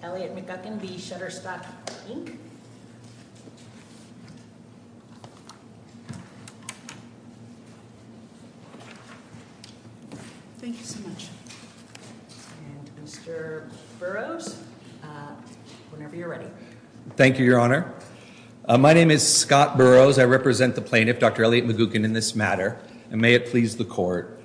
Thank you so much. And Mr. Burroughs, whenever you're ready. Thank you, Your Honor. My name is Scott Burroughs. I represent the plaintiff, Dr. Elliot McGuckin, in this matter, and may it please the Court.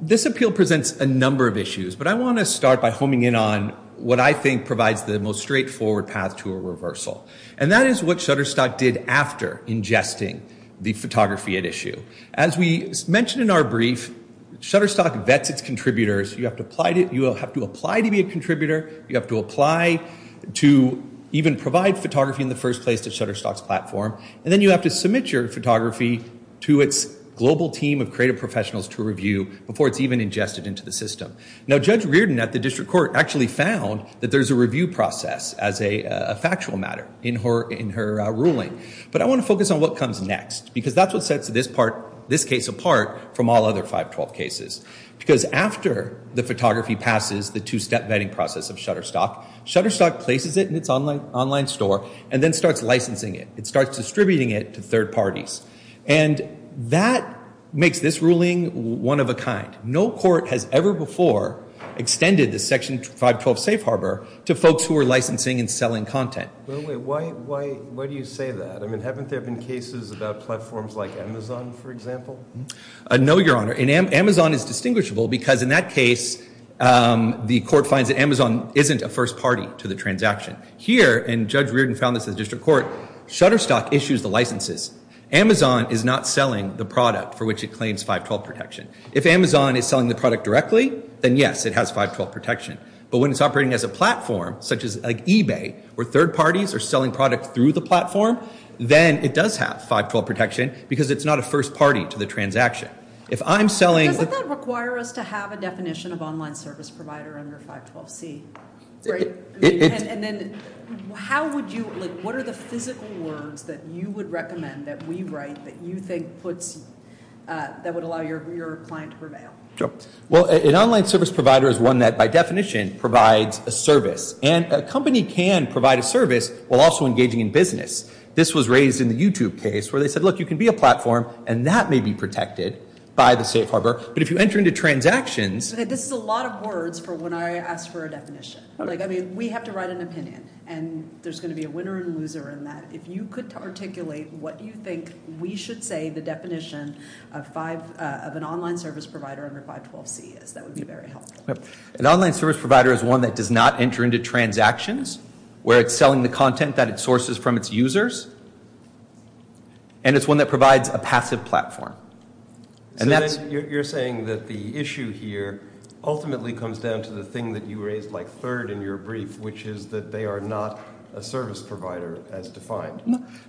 This appeal presents a number of issues, but I want to start by homing in on what I think provides the most straightforward path to a reversal. And that is what Shutterstock did after ingesting the photography at issue. As we mentioned in our brief, Shutterstock vets its contributors. You have to apply to be a contributor. You have to apply to even provide photography in the first place to Shutterstock's platform. And then you have to submit your photography to its global team of creative professionals to review before it's even ingested into the system. Now, Judge Reardon at the District Court actually found that there's a review process as a factual matter in her ruling. But I want to focus on what comes next, because that's what sets this case apart from all other 512 cases. Because after the photography passes the two-step vetting process of Shutterstock, Shutterstock places it in its online store and then starts licensing it. It starts distributing it to third parties. And that makes this ruling one of a kind. No court has ever before extended the Section 512 safe harbor to folks who are licensing and selling content. Wait, wait, wait. Why do you say that? I mean, haven't there been cases about platforms like Amazon, for example? No, Your Honor. And Amazon is distinguishable because in that case, the court finds that Amazon isn't a first party to the transaction. Here, and Judge Reardon found this at the District Court, Shutterstock issues the licenses. Amazon is not selling the product for which it claims 512 protection. If Amazon is selling the product directly, then yes, it has 512 protection. But when it's operating as a platform, such as eBay, where third parties are selling product through the platform, then it does have 512 protection, because it's not a first party to the transaction. If I'm selling- Doesn't that require us to have a definition of online service provider under 512c? And then how would you, what are the physical words that you would recommend that we write that you think puts, that would allow your client to prevail? Sure. Well, an online service provider is one that, by definition, provides a service. And a company can provide a service while also engaging in business. This was raised in the YouTube case where they said, look, you can be a platform and that may be protected by the safe harbor. But if you enter into transactions- This is a lot of words for when I ask for a definition. Like, I mean, we have to write an opinion and there's going to be a winner and loser in that. If you could articulate what you think we should say the definition of an online service provider under 512c is, that would be very helpful. An online service provider is one that does not enter into transactions, where it's selling the content that it sources from its users, and it's one that provides a passive platform. So then you're saying that the issue here ultimately comes down to the thing that you raised like third in your brief, which is that they are not a service provider as defined.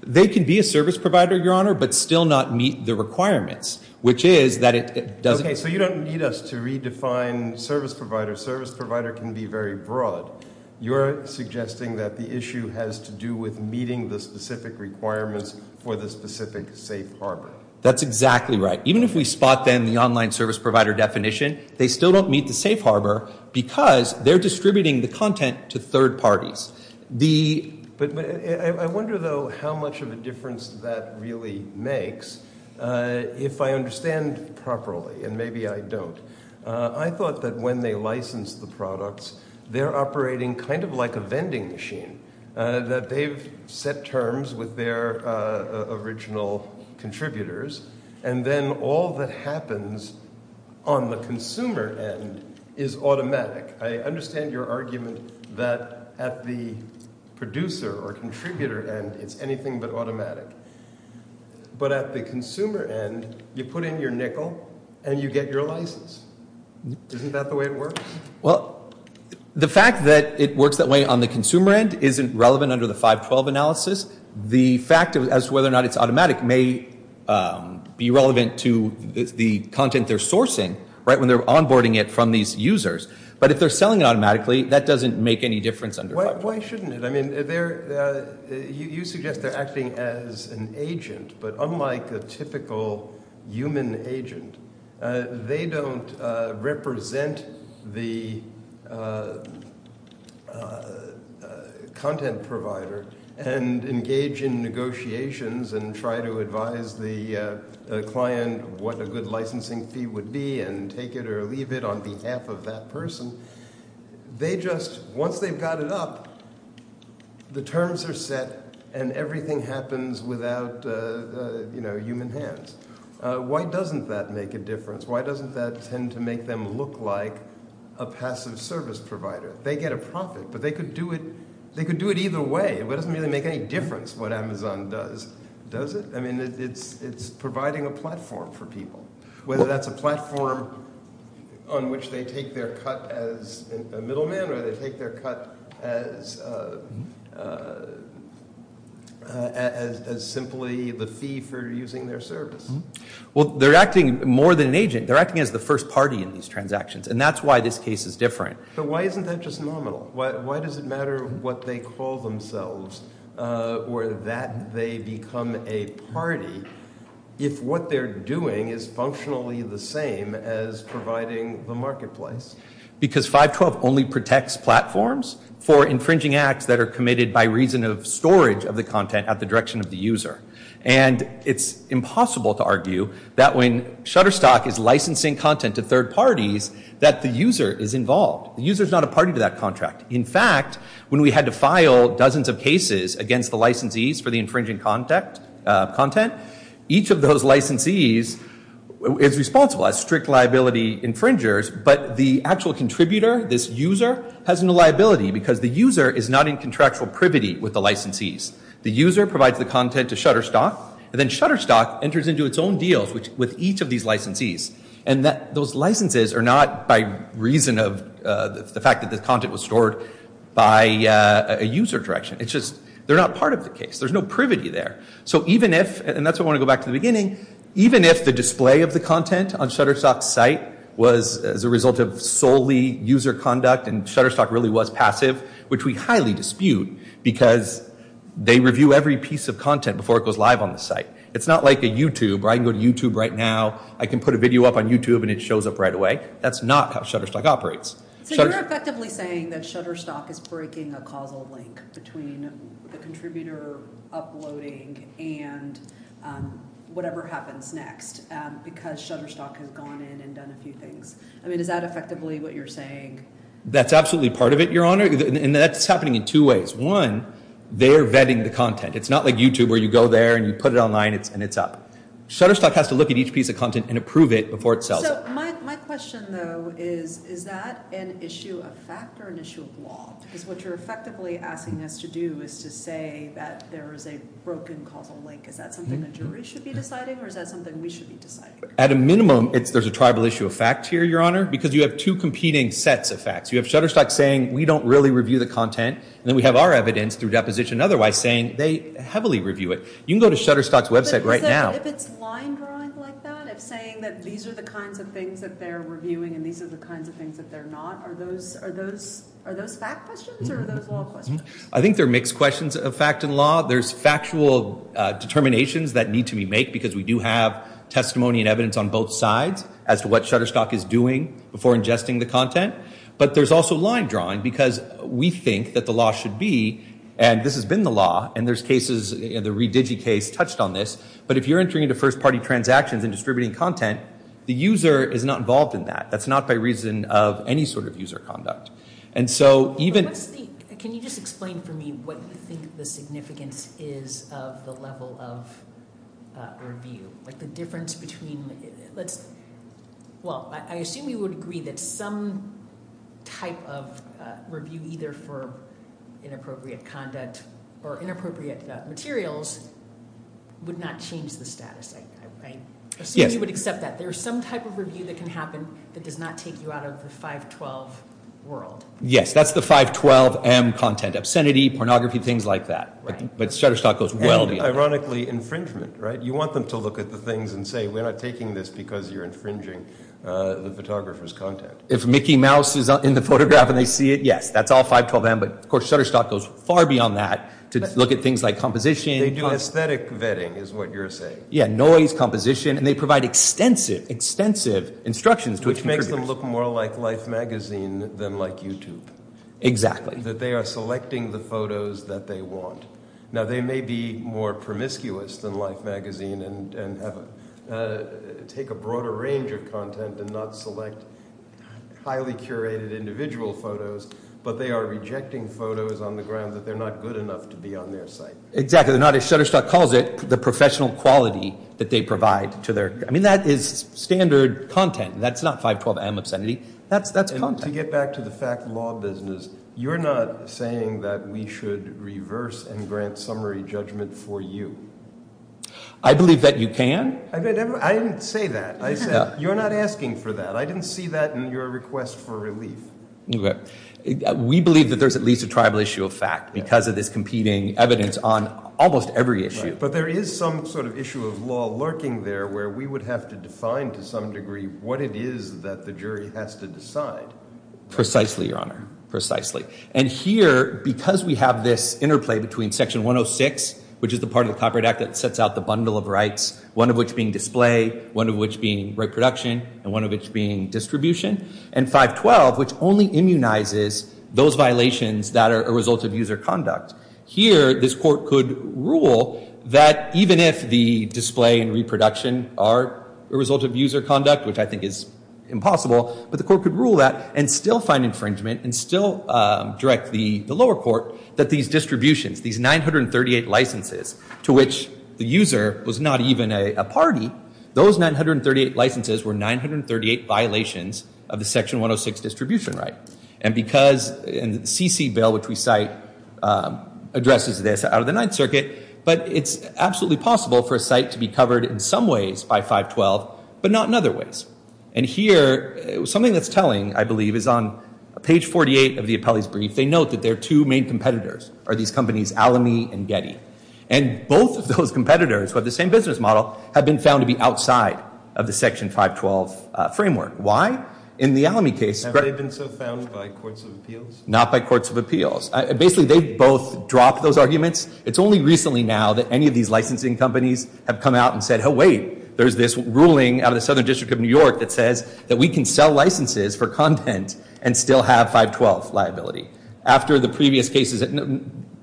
They can be a service provider, Your Honor, but still not meet the requirements, which is that it doesn't- Okay, so you don't need us to redefine service provider. Service provider can be very broad. You're suggesting that the issue has to do with meeting the specific requirements for the specific safe harbor. That's exactly right. Even if we spot then the online service provider definition, they still don't meet the safe harbor because they're distributing the content to third parties. I wonder though how much of a difference that really makes. If I understand properly, and maybe I don't, I thought that when they licensed the products, they're operating kind of like a vending machine, that they've set terms with their original contributors, and then all that happens on the consumer end is automatic. I understand your argument that at the producer or contributor end, it's anything but automatic. But at the consumer end, you put in your nickel and you get your license. Isn't that the way it works? The fact that it works that way on the consumer end isn't relevant under the 512 analysis. The fact as to whether or not it's automatic may be relevant to the content they're sourcing when they're onboarding it from these users. But if they're selling it automatically, that doesn't make any difference under 512. Why shouldn't it? You suggest they're acting as an agent, but unlike a typical human agent, they don't represent the content provider and engage in negotiations and try to advise the client what a good licensing fee would be and take it or leave it on behalf of that person. Once they've got it up, the terms are set and everything happens without human hands. Why doesn't that make a difference? Why doesn't that tend to make them look like a passive service provider? They get a profit, but they could do it either way. It doesn't really make any difference what Amazon does, does it? It's providing a platform for people, whether that's a platform on which they take their cut as a middleman or they take their cut as simply the fee for using their service. They're acting more than an agent. They're acting as the first party in these transactions, and that's why this case is different. Why isn't that just nominal? Why does it matter what they call themselves or that they become a party if what they're doing is functionally the same as providing the marketplace? Because 512 only protects platforms for infringing acts that are committed by reason of storage of the content at the direction of the user. And it's impossible to argue that when Shutterstock is licensing content to third parties that the user is involved. The user is not a party to that contract. In fact, when we had to file dozens of cases against the licensees for the infringing content, each of those licensees is responsible as strict liability infringers, but the actual contributor, this user, has no liability because the user is not in contractual privity with the licensees. The user provides the content to Shutterstock, and then Shutterstock enters into its own deals with each of these licensees. And those licenses are not by reason of the fact that the content was stored by a user direction. It's just, they're not part of the case. There's no privity there. So even if, and that's why I want to go back to the beginning, even if the display of the content on Shutterstock's site was as a result of solely user conduct and Shutterstock really was passive, which we highly dispute because they review every piece of content before it goes live on the site. It's not like a YouTube, where I can go to YouTube right now, I can put a video up on YouTube and it shows up right away. That's not how Shutterstock operates. So you're effectively saying that Shutterstock is breaking a causal link between the contributor uploading and whatever happens next because Shutterstock has gone in and done a few things. I mean, is that effectively what you're saying? That's absolutely part of it, Your Honor. And that's happening in two ways. One, they're vetting the content. It's not like YouTube, where you go there and you put it online and it's up. Shutterstock has to look at each piece of content and approve it before it sells it. So my question though is, is that an issue of fact or an issue of law? Because what you're effectively asking us to do is to say that there is a broken causal link. Is that something the jury should be deciding or is that something we should be deciding? At a minimum, there's a tribal issue of fact here, Your Honor, because you have two competing sets of facts. You have Shutterstock saying, we don't really review the content, and then we have our evidence through deposition otherwise saying they heavily review it. You can go to Shutterstock's website right now. But is it, if it's line drawing like that, if saying that these are the kinds of things that they're reviewing and these are the kinds of things that they're not, are those, are those, are those fact questions or are those law questions? I think they're mixed questions of fact and law. There's factual determinations that need to be made because we do have testimony and evidence on both sides as to what Shutterstock is doing before ingesting the content. But there's also line drawing because we think that the law should be, and this has been the law, and there's cases, the ReDigi case touched on this, but if you're entering into first party transactions and distributing content, the user is not involved in that. That's not by reason of any sort of user conduct. And so even- What's the, can you just explain for me what you think the significance is of the level of review? Like the difference between, let's, well, I assume you would agree that some type of review either for inappropriate content or inappropriate materials would not change the status. I assume you would accept that there's some type of review that can happen that does not take you out of the 512 world. Yes, that's the 512M content, obscenity, pornography, things like that. But Shutterstock goes well beyond that. And ironically, infringement, right? You want them to look at the things and say, we're not taking this because you're infringing the photographer's content. If Mickey Mouse is in the photograph and they see it, yes, that's all 512M, but of course Shutterstock goes far beyond that to look at things like composition- They do aesthetic vetting is what you're saying. Yeah, noise, composition, and they provide extensive, extensive instructions to contributors. Which makes them look more like Life Magazine than like YouTube. Exactly. That they are selecting the photos that they want. Now they may be more promiscuous than Life Magazine and take a broader range of content and not select highly curated individual photos, but they are rejecting photos on the ground that they're not good enough to be on their site. Exactly. They're not, as Shutterstock calls it, the professional quality that they provide to their- I mean, that is standard content. That's not 512M obscenity. That's content. To get back to the fact law business, you're not saying that we should reverse and grant a summary judgment for you. I believe that you can. I didn't say that. I said you're not asking for that. I didn't see that in your request for relief. We believe that there's at least a tribal issue of fact because of this competing evidence on almost every issue. But there is some sort of issue of law lurking there where we would have to define to some degree what it is that the jury has to decide. Precisely, Your Honor. Precisely. And here, because we have this interplay between Section 106, which is the part of the Copyright Act that sets out the bundle of rights, one of which being display, one of which being reproduction, and one of which being distribution, and 512, which only immunizes those violations that are a result of user conduct. Here, this court could rule that even if the display and reproduction are a result of user conduct, which I think is impossible, but the court could rule that and still find infringement and still direct the lower court that these distributions, these 938 licenses to which the user was not even a party, those 938 licenses were 938 violations of the Section 106 distribution right. And because CC bill, which we cite, addresses this out of the Ninth Circuit, but it's absolutely possible for a site to be covered in some ways by 512, but not in other ways. And here, something that's telling, I believe, is on page 48 of the appellee's brief. They note that their two main competitors are these companies, Alamy and Getty. And both of those competitors who have the same business model have been found to be outside of the Section 512 framework. Why? In the Alamy case- Have they been so found by courts of appeals? Not by courts of appeals. Basically, they've both dropped those arguments. It's only recently now that any of these licensing companies have come out and said, oh, wait, there's this ruling out of the Southern District of New York that says that we can sell licenses for content and still have 512 liability. After the previous cases, they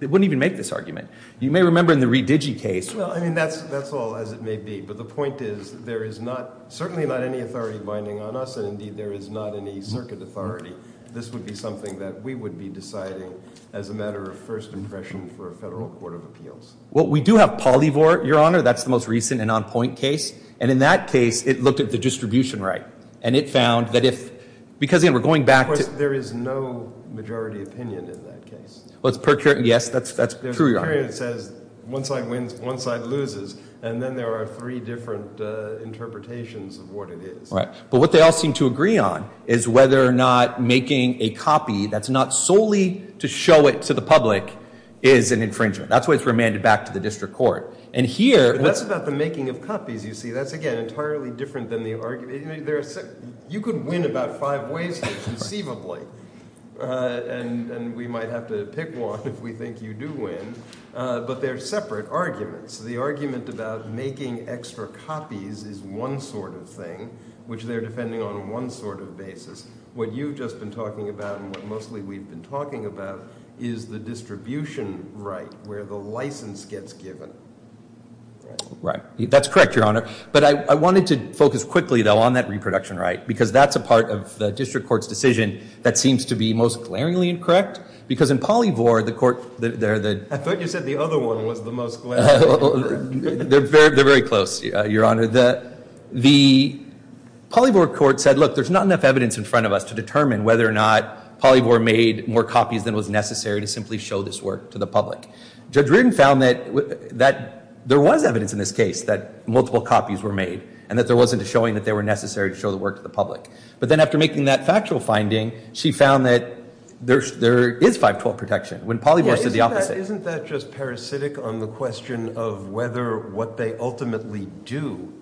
wouldn't even make this argument. You may remember in the Redigi case- Well, I mean, that's all as it may be. But the point is, there is not, certainly not any authority binding on us, and indeed, there is not any circuit authority. This would be something that we would be deciding as a matter of first impression for a federal court of appeals. Well, we do have Polyvore, Your Honor. That's the most recent and on-point case. And in that case, it looked at the distribution right. And it found that if- because, again, we're going back to- Of course, there is no majority opinion in that case. Well, it's per- yes, that's true, Your Honor. There's a period that says one side wins, one side loses. And then there are three different interpretations of what it is. Right. But what they all seem to agree on is whether or not making a copy that's not solely to show it to the public is an infringement. That's why it's remanded back to the district court. And here- But that's about the making of copies, you see. That's, again, entirely different than the argument- you could win about five ways conceivably. And we might have to pick one if we think you do win. But they're separate arguments. The argument about making extra copies is one sort of thing, which they're defending on one sort of basis. What you've just been talking about and what mostly we've been talking about is the distribution right where the license gets given. Right. That's correct, Your Honor. But I wanted to focus quickly, though, on that reproduction right because that's a part of the district court's decision that seems to be most glaringly incorrect because in Polyvore, the court- I thought you said the other one was the most glaringly incorrect. They're very close, Your Honor. The Polyvore court said, look, there's not enough evidence in front of us to determine whether or not Polyvore made more copies than was necessary to simply show this work to the public. Judge Reardon found that there was evidence in this case that multiple copies were made and that there wasn't a showing that they were necessary to show the work to the public. But then after making that factual finding, she found that there is 512 protection when Polyvore said the opposite. Yeah, isn't that just parasitic on the question of whether what they ultimately do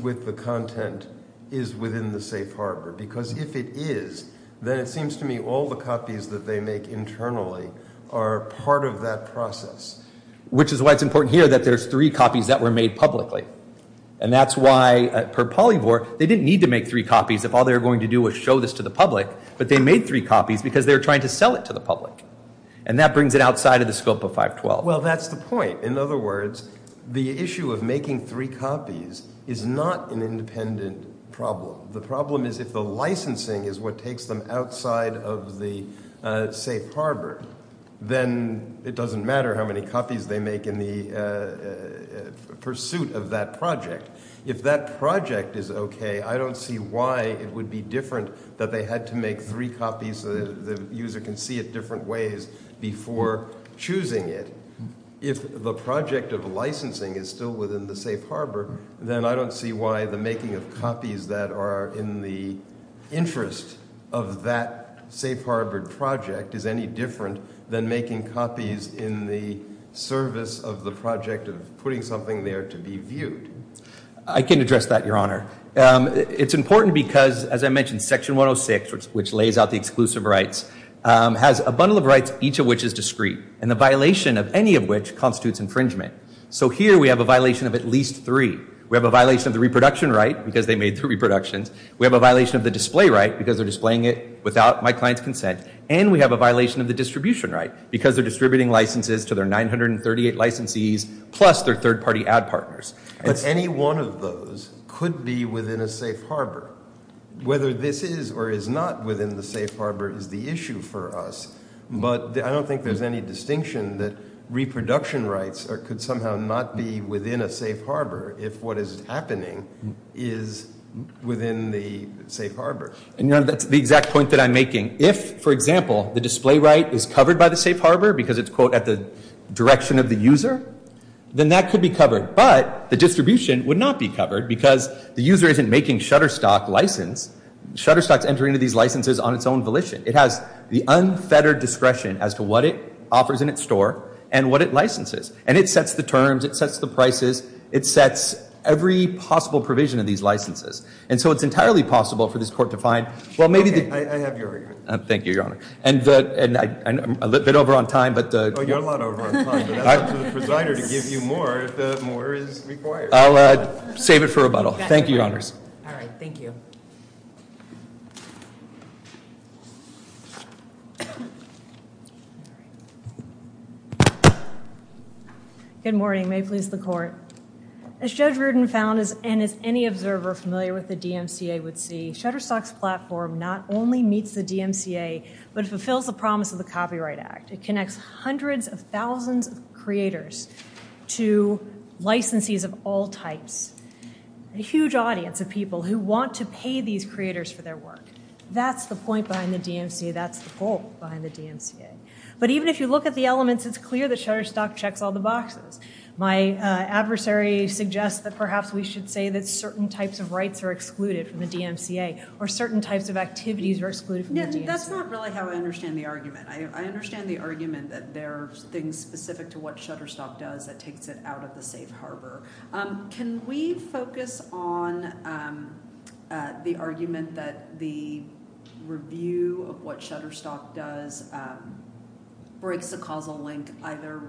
with the content is within the safe harbor? Because if it is, then it seems to me all the copies that they make internally are part of that process. Which is why it's important here that there's three copies that were made publicly. And that's why, per Polyvore, they didn't need to make three copies if all they were going to do was show this to the public. But they made three copies because they were trying to sell it to the public. And that brings it outside of the scope of 512. Well, that's the point. In other words, the issue of making three copies is not an independent problem. The problem is if the licensing is what takes them outside of the safe harbor, then it doesn't matter how many copies they make in the pursuit of that project. If that project is okay, I don't see why it would be different that they had to make three copies so that the user can see it different ways before choosing it. If the project of licensing is still within the safe harbor, then I don't see why the making of copies that are in the interest of that safe harbor project is any different than making copies in the service of the project of putting something there to be viewed. I can address that, Your Honor. It's important because, as I mentioned, Section 106, which lays out the exclusive rights, has a bundle of rights, each of which is discrete, and the violation of any of which constitutes infringement. So here we have a violation of at least three. We have a violation of the reproduction right, because they made three reproductions. We have a violation of the display right, because they're displaying it without my client's consent. And we have a violation of the distribution right, because they're distributing licenses to their 938 licensees plus their third-party ad partners. But any one of those could be within a safe harbor. Whether this is or is not within the safe harbor is the issue for us, but I don't think there's any distinction that reproduction rights could somehow not be within a safe harbor if what is happening is within the safe harbor. And, Your Honor, that's the exact point that I'm making. If, for example, the display right is covered by the safe harbor because it's, quote, at the direction of the user, then that could be covered. But the distribution would not be covered, because the user isn't making Shutterstock license. Shutterstock's entering into these licenses on its own volition. It has the unfettered discretion as to what it offers in its store and what it licenses. And it sets the terms. It sets the prices. It sets every possible provision of these licenses. And so it's entirely possible for this Court to find, well, maybe the— Okay. I have your argument. Thank you, Your Honor. And I'm a bit over on time, but— Well, you're a lot over on time, but that's up to the presider to give you more if more is required. I'll save it for rebuttal. Thank you, Your Honors. All right. Thank you. Good morning. May it please the Court. As Judge Rudin found, and as any observer familiar with the DMCA would see, Shutterstock's platform not only meets the DMCA, but it fulfills the promise of the Copyright Act. It connects hundreds of thousands of creators to licensees of all types, a huge audience of people who want to pay these creators for their work. That's the point behind the DMCA. That's the goal behind the DMCA. But even if you look at the elements, it's clear that Shutterstock checks all the boxes. My adversary suggests that perhaps we should say that certain types of rights are excluded from the DMCA or certain types of activities are excluded from the DMCA. That's not really how I understand the argument. I understand the argument that there are things specific to what Shutterstock does that takes it out of the safe harbor. Can we focus on the argument that the review of what Shutterstock does breaks a causal link either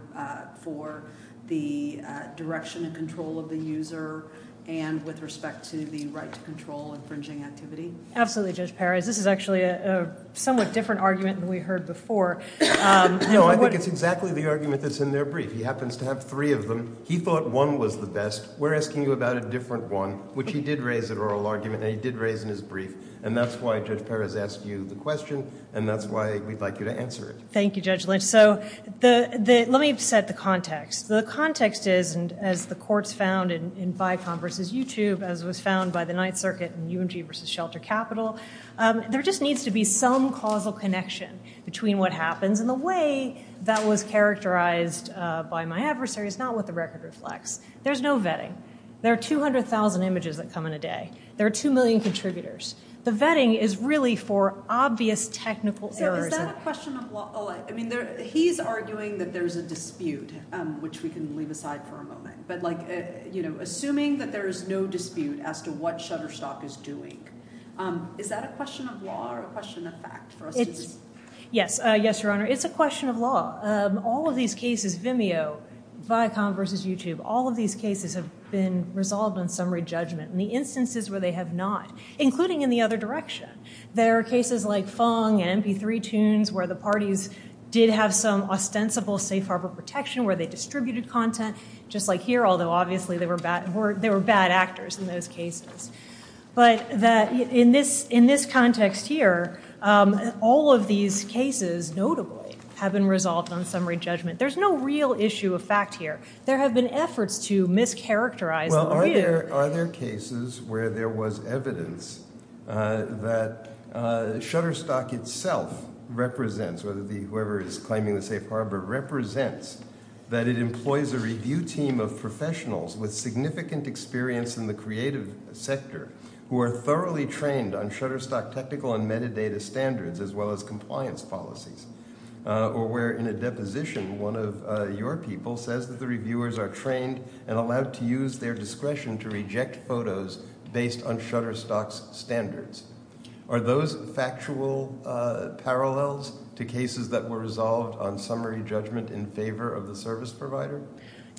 for the direction and control of the user and with respect to the right to control infringing activity? Absolutely, Judge Perez. This is actually a somewhat different argument than we heard before. No, I think it's exactly the argument that's in their brief. He happens to have three of them. He thought one was the best. We're asking you about a different one, which he did raise in oral argument and he did raise in his brief. That's why Judge Perez asked you the question and that's why we'd like you to answer it. Thank you, Judge Lynch. Let me set the context. The context is, as the courts found in BICOM versus YouTube, as was found by the Ninth Circuit in UMG versus Shelter Capital, there just needs to be some causal connection between what happens. The way that was characterized by my adversary is not what the record reflects. There's no vetting. There are 200,000 images that come in a day. There are two million contributors. The vetting is really for obvious technical errors. Is that a question of law? He's arguing that there's a dispute, which we can leave aside for a moment. Assuming that there is no dispute as to what Shutterstock is doing, is that a question of law or a question of fact for us to... Yes, Your Honor. It's a question of law. All of these cases, Vimeo, BICOM versus YouTube, all of these cases have been resolved on summary judgment in the instances where they have not, including in the other direction. There are cases like Fung and MP3 tunes where the parties did have some ostensible safe harbor protection, where they distributed content, just like here, although obviously they were bad actors in those cases. But in this context here, all of these cases, notably, have been resolved on summary judgment. There's no real issue of fact here. There have been efforts to mischaracterize the view. Are there cases where there was evidence that Shutterstock itself represents, or whoever is claiming the safe harbor represents, that it employs a review team of professionals with significant experience in the creative sector who are thoroughly trained on Shutterstock technical and metadata standards, as well as compliance policies? Or where in a deposition, one of your people says that the reviewers are trained and allowed to use their discretion to reject photos based on Shutterstock's standards. Are those factual parallels to cases that were resolved on summary judgment in favor of the service provider?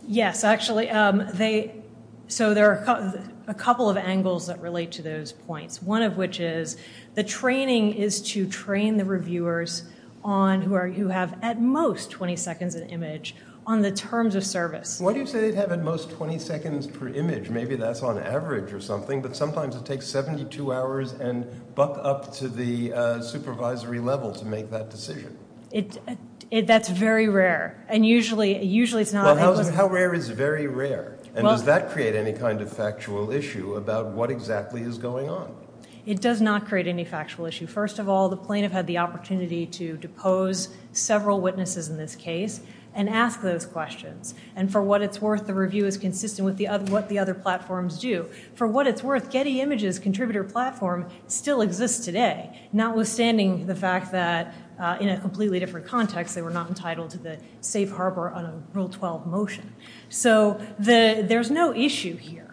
Yes, actually. There are a couple of angles that relate to those points, one of which is the training is to train the reviewers who have at most 20 seconds an image on the terms of service. Why do you say they have at most 20 seconds per image? Maybe that's on average or something, but sometimes it takes 72 hours and buck up to the supervisory level to make that decision. That's very rare, and usually it's not. How rare is very rare? And does that create any kind of factual issue about what exactly is going on? It does not create any factual issue. First of all, the plaintiff had the opportunity to depose several witnesses in this case and ask those questions. And for what it's worth, the review is consistent with what the other platforms do. For what it's worth, Getty Images contributor platform still exists today, notwithstanding the fact that in a completely different context, they were not entitled to the safe harbor on a Rule 12 motion. So there's no issue here.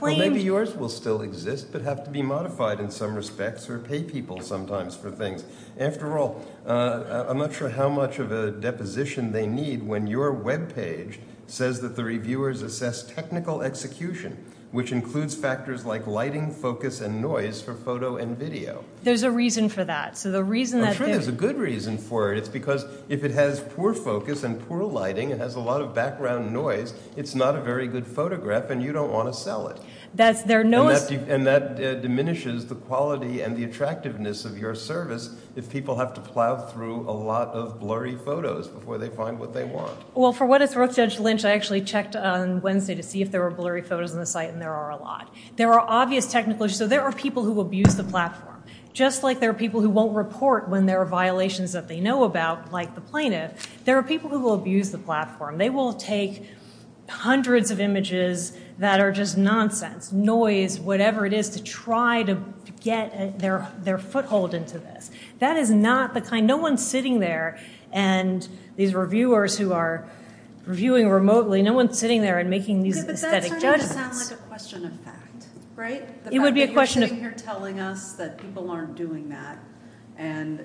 Maybe yours will still exist, but have to be modified in some respects or pay people sometimes for things. After all, I'm not sure how much of a deposition they need when your web page says that the reviewers assess technical execution, which includes factors like lighting, focus, and noise for photo and video. There's a reason for that. I'm sure there's a good reason for it. It's because if it has poor focus and poor lighting and has a lot of background noise, it's not a very good photograph and you don't want to sell it. And that diminishes the quality and the attractiveness of your service if people have to plow through a lot of blurry photos before they find what they want. Well, for what it's worth, Judge Lynch, I actually checked on Wednesday to see if there were blurry photos on the site, and there are a lot. There are obvious technical issues. So there are people who abuse the platform. Just like there are people who won't report when there are violations that they know about, like the plaintiff, there are people who will abuse the platform. They will take hundreds of images that are just nonsense, noise, whatever it is, to try to get their foothold into this. That is not the kind—no one's sitting there and—these reviewers who are reviewing remotely—no one's sitting there and making these aesthetic Yeah, but that's starting to sound like a question of fact, right? It would be a question of— The fact that you're sitting here telling us that people aren't doing that. And,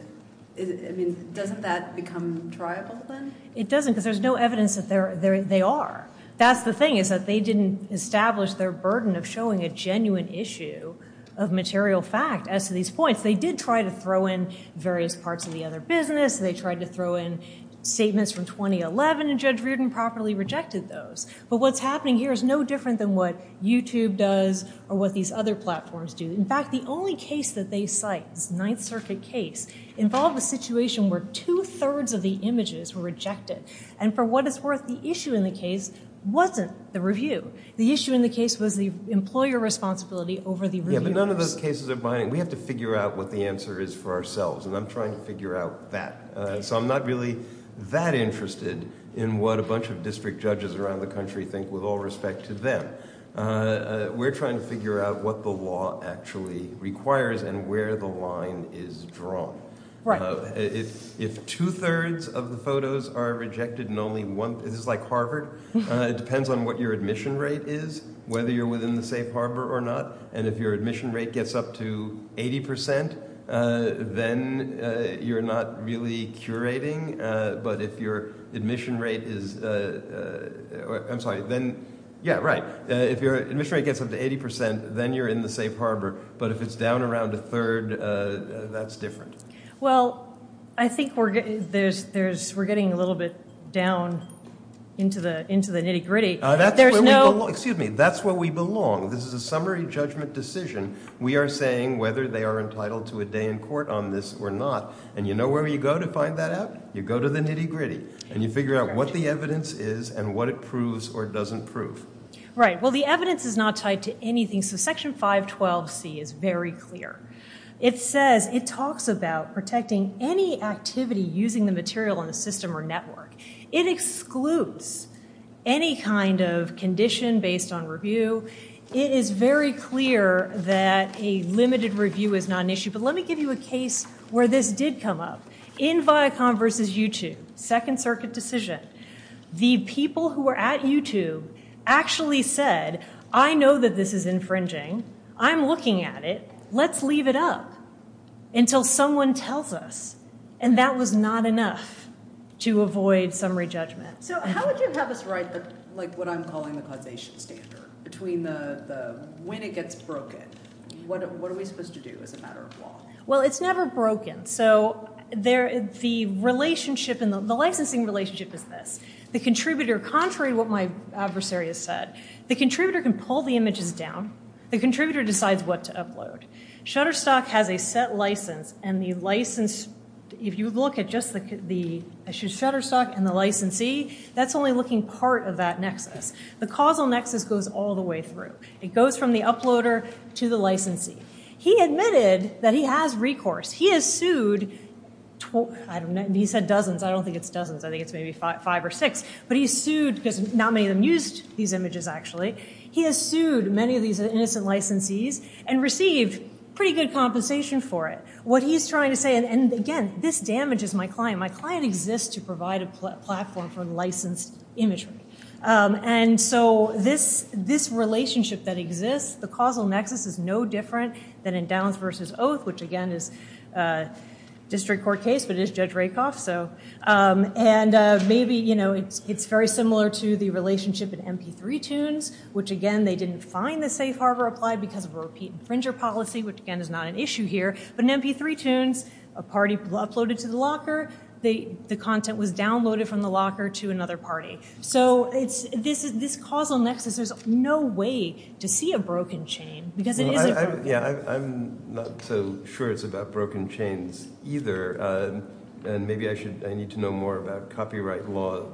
I mean, doesn't that become triable then? It doesn't, because there's no evidence that they are. That's the thing, is that they didn't establish their burden of showing a genuine issue of material fact as to these points. They did try to throw in various parts of the other business. They tried to throw in statements from 2011, and Judge Reardon properly rejected those. But what's happening here is no different than what YouTube does or what these other platforms do. In fact, the only case that they cite, this Ninth Circuit case, involved a situation where two-thirds of the images were rejected. And for what it's worth, the issue in the case wasn't the review. The issue in the case was the employer responsibility over the reviewers. Yeah, but none of those cases are binding. We have to figure out what the answer is for ourselves, and I'm trying to figure out that. So I'm not really that interested in what a bunch of district judges around the country think with all respect to them. We're trying to figure out what the law actually requires and where the line is drawn. Right. So if two-thirds of the photos are rejected and only one, this is like Harvard, it depends on what your admission rate is, whether you're within the safe harbor or not. And if your admission rate gets up to 80%, then you're not really curating. But if your admission rate is, I'm sorry, then, yeah, right. If your admission rate gets up to 80%, then you're in the safe harbor. But if it's down around a third, that's different. Well, I think we're getting a little bit down into the nitty gritty. That's where we belong. This is a summary judgment decision. We are saying whether they are entitled to a day in court on this or not. And you know where you go to find that out? You go to the nitty gritty. And you figure out what the evidence is and what it proves or doesn't prove. Right. Well, the evidence is not tied to anything. So Section 512C is very clear. It says, it talks about protecting any activity using the material in the system or network. It excludes any kind of condition based on review. It is very clear that a limited review is not an issue. But let me give you a case where this did come up. In Viacom versus YouTube, Second Circuit decision. The people who were at YouTube actually said, I know that this is infringing. I'm looking at it. Let's leave it up until someone tells us. And that was not enough to avoid summary judgment. So how would you have us write what I'm calling the causation standard? Between when it gets broken, what are we supposed to do as a matter of law? Well, it's never broken. So the licensing relationship is this. The contributor, contrary to the contributor, decides what to upload. Shutterstock has a set license. And the license, if you look at just the Shutterstock and the licensee, that's only looking part of that nexus. The causal nexus goes all the way through. It goes from the uploader to the licensee. He admitted that he has recourse. He has sued. He said dozens. I don't think it's dozens. I think it's maybe five or six. But he sued because not many of them used these images, actually. He has sued many of these innocent licensees and received pretty good compensation for it. What he's trying to say, and again, this damages my client. My client exists to provide a platform for licensed imagery. And so this relationship that exists, the causal nexus is no different than in Downs versus Oath, which again is a district court case, but it is Judge Rakoff. And maybe it's very similar to the relationship in MP3 Toons, which again, they didn't find the safe harbor applied because of a repeat infringer policy, which again is not an issue here. But in MP3 Toons, a party uploaded to the locker. The content was downloaded from the locker to another party. So this causal nexus, there's no way to see a broken chain because it isn't from here. Yeah, I'm not so sure it's about broken chains either. And maybe I need to know more about copyright law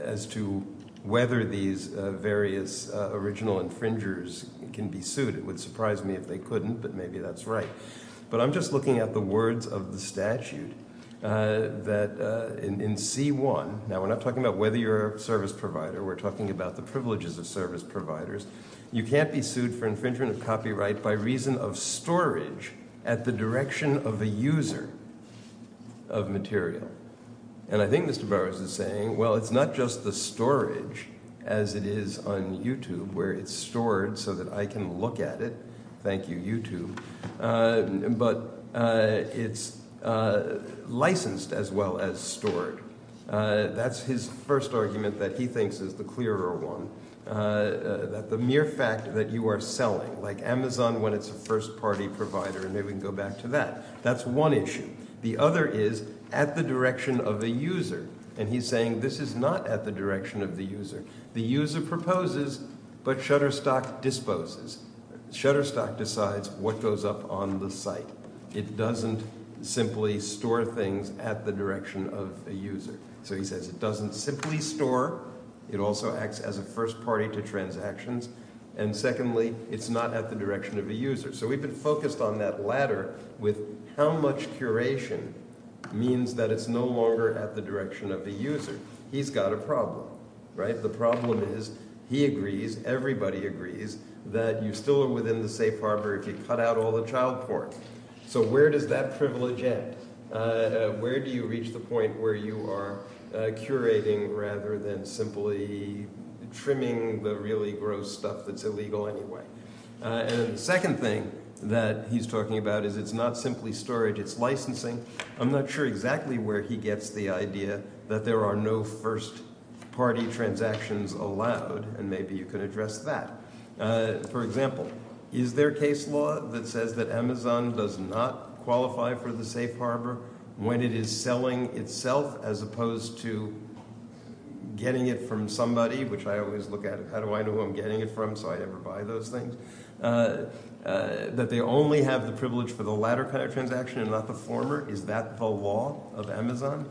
as to whether these various original infringers can be sued. It would surprise me if they couldn't, but maybe that's right. But I'm just looking at the words of the statute that in C1, now we're not talking about whether you're a service provider. We're talking about the privileges of service providers. You can't be sued for infringement of copyright by reason of storage at the direction of a user of material. And I think Mr. Burroughs is saying, well, it's not just the storage as it is on YouTube where it's stored so that I can look at it. Thank you, YouTube. But it's licensed as well as stored. That's his first argument that he thinks is the clearer one, that the mere fact that you are selling like Amazon when it's a first party provider. And maybe we can go back to that. That's one issue. The other is at the direction of the user. And he's saying this is not at the direction of the user. The user proposes, but Shutterstock disposes. Shutterstock decides what goes up on the site. It doesn't simply store things at the direction of the user. So he says it doesn't simply store. It also acts as a first party to transactions. And secondly, it's not at the direction of the user. So we've been focused on that ladder with how much curation means that it's no longer at the direction of the user. He's got a problem. The problem is he agrees, everybody agrees, that you still are within the safe harbor if you cut out all the child porn. So where does that privilege end? Where do you reach the point where you are curating rather than simply trimming the really gross stuff that's illegal anyway? And the second thing that he's talking about is it's not simply storage. It's licensing. I'm not sure exactly where he gets the idea that there are no first party transactions allowed. And maybe you can address that. For example, is there case law that says that Amazon does not qualify for the safe harbor when it is selling itself as opposed to getting it from somebody, which I always look at how do I know who I'm getting it from so I never buy those things, that they only have the privilege for the ladder transaction and not the former? Is that the law of Amazon?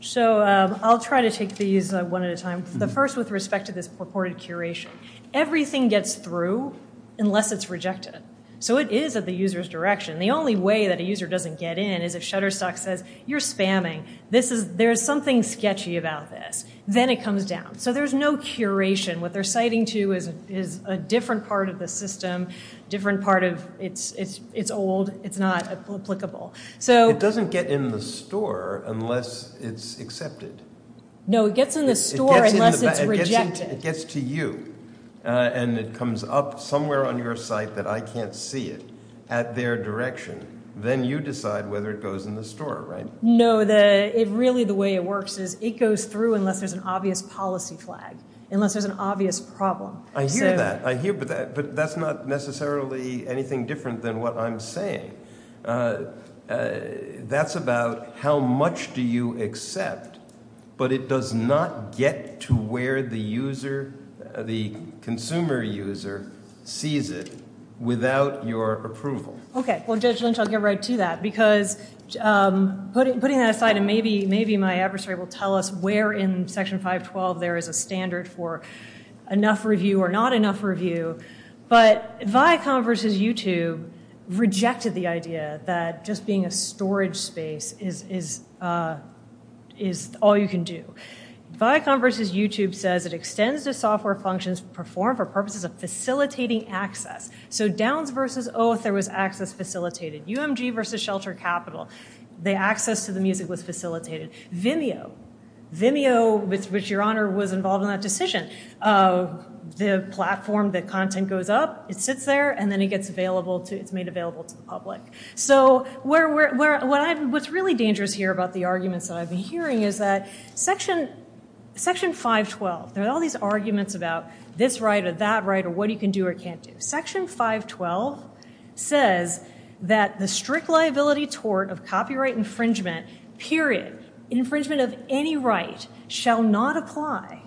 So I'll try to take these one at a time. The first with respect to this purported curation. Everything gets through unless it's rejected. So it is at the user's direction. The only way that a user doesn't get in is if Shutterstock says, you're spamming. There's something sketchy about this. Then it comes down. So there's no curation. What they're citing to is a different part of the system, different part of it's old, it's not applicable. It doesn't get in the store unless it's accepted. No, it gets in the store unless it's rejected. It gets to you and it comes up somewhere on your site that I can't see it at their direction. Then you decide whether it goes in the store, right? No, really the way it works is it goes through unless there's an obvious policy flag, unless there's an obvious problem. I hear that, I hear, but that's not necessarily anything different than what I'm saying. That's about how much do you accept, but it does not get to where the user, the consumer user sees it without your approval. Okay, well Judge Lynch, I'll get right to that because putting that aside and maybe my adversary will tell us where in Section 512 there is a standard for enough review or not enough review. Viacom versus YouTube rejected the idea that just being a storage space is all you can do. Viacom versus YouTube says it extends the software functions performed for purposes of facilitating access. So Downs versus Oath, there was access facilitated. UMG versus Shelter Capital, the access to the music was facilitated. Vimeo, with which Your Honor was involved in that decision, the platform, the content goes up, it sits there, and then it gets available, it's made available to the public. So what's really dangerous here about the arguments that I've been hearing is that Section 512, there are all these arguments about this right or that right or what you can do or can't do. Section 512 says that the strict liability tort of copyright infringement, period, infringement of any right shall not apply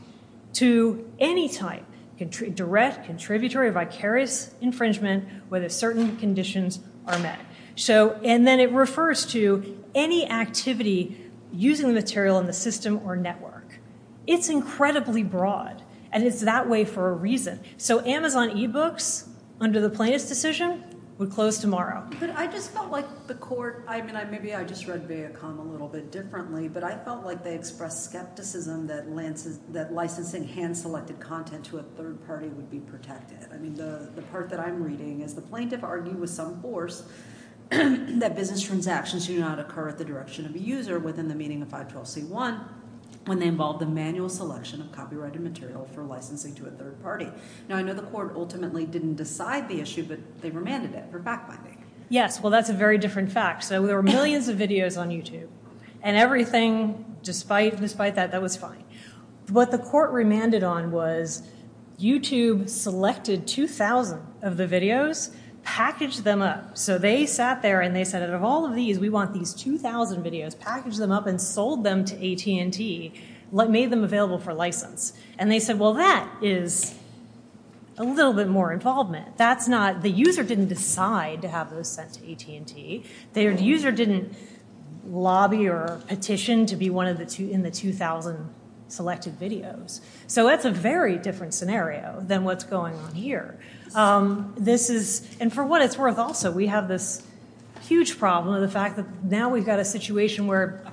to any type, direct, contributory, vicarious infringement where the certain conditions are met. And then it refers to any activity using the material in the system or network. It's incredibly broad, and it's that way for a reason. So Amazon e-books, under the plaintiff's decision, would close tomorrow. But I just felt like the court, I mean maybe I just read Viacom a little bit differently, but I felt like they expressed skepticism that licensing hand-selected content to a third party would be protected. I mean the part that I'm reading is the plaintiff argued with some force that business transactions do not occur at the direction of a user within the meaning of 512c1 when they involve the manual selection of copyrighted material for licensing to a third party. Now I know the court ultimately didn't decide the issue, but they remanded it for fact-finding. Yes, well that's a very different fact. So there were millions of videos on YouTube, and everything, despite that, that was fine. What the court remanded on was YouTube selected 2,000 of the videos, packaged them up. So they sat there and they said out of all of these, we want these 2,000 videos, packaged them up and sold them to AT&T, made them available for license. And they said, well that is a little bit more involvement. That's not, the user didn't decide to have those sent to AT&T. The user didn't lobby or petition to be in the 2,000 selected videos. So that's a very different scenario than what's going on here. This is, and for what it's worth also, we have this huge problem of the fact that now we've got a situation where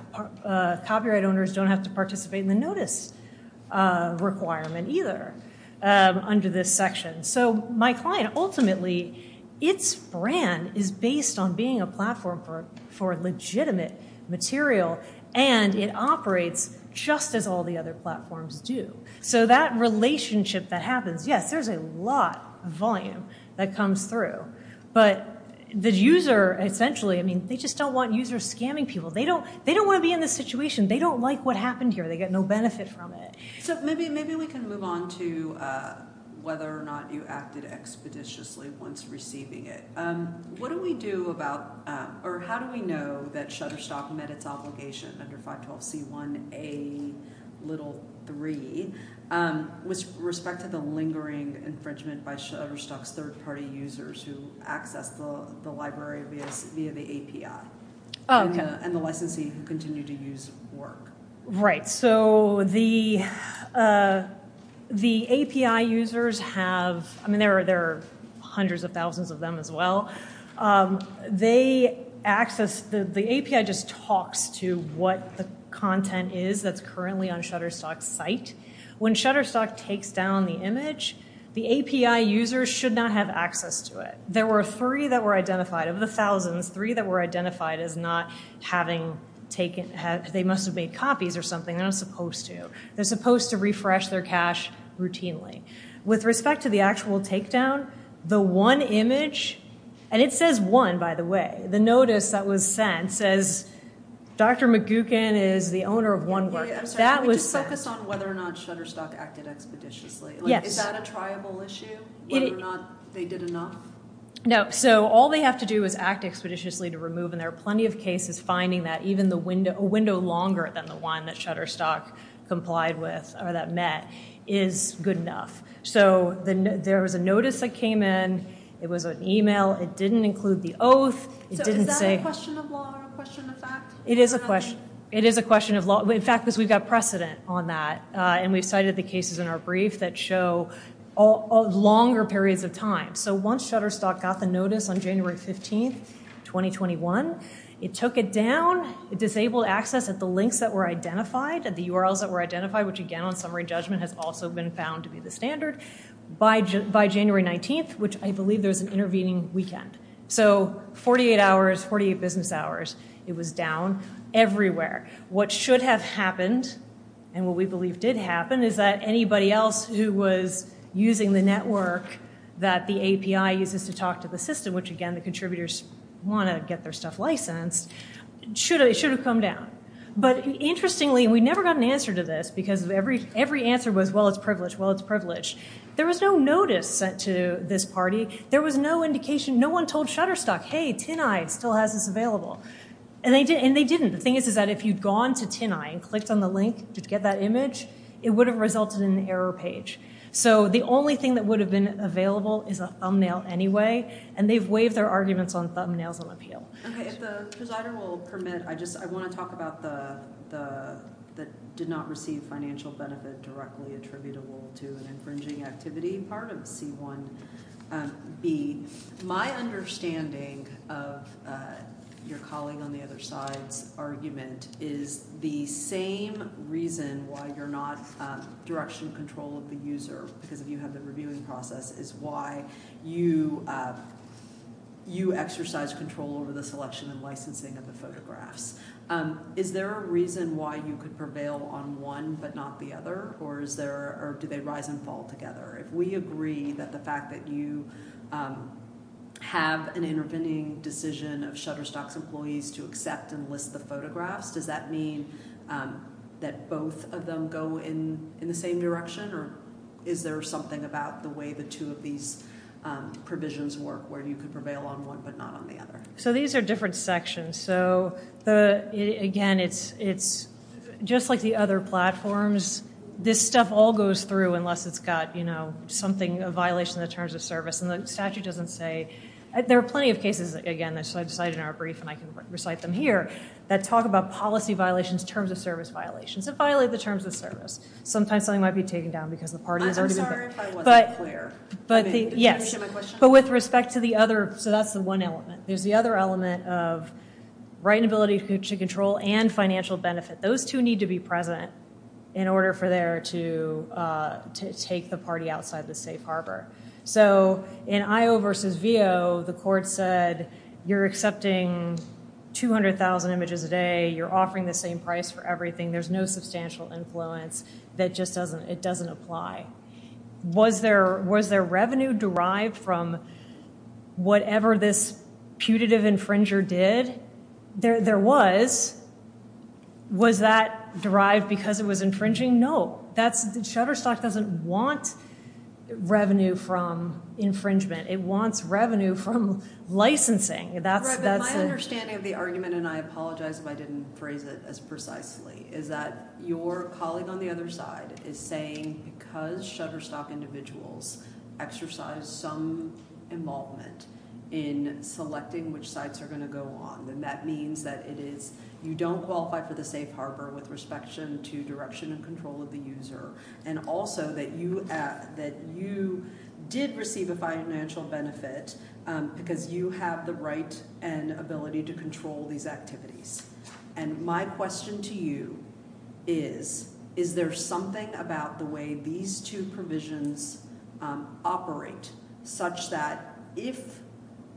copyright owners don't have to participate in the notice requirement either under this section. So my client ultimately, its brand is based on being a platform for legitimate material, and it operates just as all the other platforms do. So that relationship that happens, yes, there's a lot of volume that comes through. But the user essentially, I mean, they just don't want users scamming people. They don't want to be in this situation. They don't like what happened here. They get no benefit from it. So maybe we can move on to whether or not you acted expeditiously once receiving it. What do we do about, or how do we know that Shutterstock met its obligation under 512C1A3 with respect to the lingering infringement by Shutterstock's third-party users who access the library via the API, and the licensee who continue to use work? Right. So the API users have, I mean, there are hundreds of thousands of them as well. They access, the API just talks to what the content is that's currently on Shutterstock's site. When Shutterstock takes down the image, the API users should not have access to it. There were three that were identified of the thousands, three that were identified as not having taken, they must have made copies or something. They're not supposed to. They're supposed to refresh their cache routinely. With respect to the actual takedown, the one image, and it says one, by the way, the notice that was sent says Dr. McGuckin is the owner of one work. That was sent. Can we just focus on whether or not Shutterstock acted expeditiously? Is that a triable issue, whether or not they did enough? No. So all they have to do is act expeditiously to remove, and there are plenty of cases finding that even a window longer than the one that Shutterstock complied with or that met is good enough. So there was a notice that came in. It was an email. It didn't include the oath. So is that a question of law or a question of fact? It is a question of law. In fact, because we've got precedent on that, and we've cited the cases in our brief that show longer periods of time. So once Shutterstock got the notice on January 15, 2021, it took it down. It disabled access at the links that were identified, at the URLs that were identified, which, again, on summary judgment has also been found to be the standard, by January 19th, which I believe there was an intervening weekend. So 48 hours, 48 business hours, it was down everywhere. What should have happened, and what we believe did happen, is that anybody else who was using the network that the API uses to talk to the system, which, again, the contributors want to get their stuff licensed, it should have come down. But interestingly, and we never got an answer to this because every answer was, well, it's privileged, well, it's privileged. There was no notice sent to this party. There was no indication. No one told Shutterstock, hey, TinEye still has this available. And they didn't. The thing is that if you'd gone to TinEye and clicked on the link to get that image, it would have resulted in an error page. So the only thing that would have been available is a thumbnail anyway, and they've waived their arguments on thumbnails on appeal. Okay. If the presider will permit, I want to talk about the did not receive financial benefit directly attributable to an infringing activity part of C1B. My understanding of your colleague on the other side's argument is the same reason why you're not direction control of the user because of you have the reviewing process is why you exercise control over the selection and licensing of the photographs. Is there a reason why you could prevail on one but not the other, or do they rise and fall together? If we agree that the fact that you have an intervening decision of Shutterstock's employees to accept and list the photographs, does that mean that both of them go in the same direction or is there something about the way the two of these provisions work where you could prevail on one but not on the other? So these are different sections. So, again, it's just like the other platforms. This stuff all goes through unless it's got something, a violation of the terms of service, and the statute doesn't say. There are plenty of cases, again, so I decided in our brief and I can recite them here, that talk about policy violations, terms of service violations, and violate the terms of service. Sometimes something might be taken down because the party has already been picked. I'm sorry if I wasn't clear. Yes, but with respect to the other, so that's the one element. There's the other element of right and ability to control and financial benefit. Those two need to be present in order for there to take the party outside the safe harbor. So in IO versus VO, the court said you're accepting 200,000 images a day. You're offering the same price for everything. There's no substantial influence that just doesn't apply. Was there revenue derived from whatever this putative infringer did? There was. Was that derived because it was infringing? No. Shutterstock doesn't want revenue from infringement. It wants revenue from licensing. Right, but my understanding of the argument, and I apologize if I didn't phrase it as precisely, is that your colleague on the other side is saying because shutterstock individuals exercise some involvement in selecting which sites are going to go on, then that means that it is you don't qualify for the safe harbor with respect to direction and control of the user, and also that you did receive a financial benefit because you have the right and ability to control these activities. And my question to you is, is there something about the way these two provisions operate such that if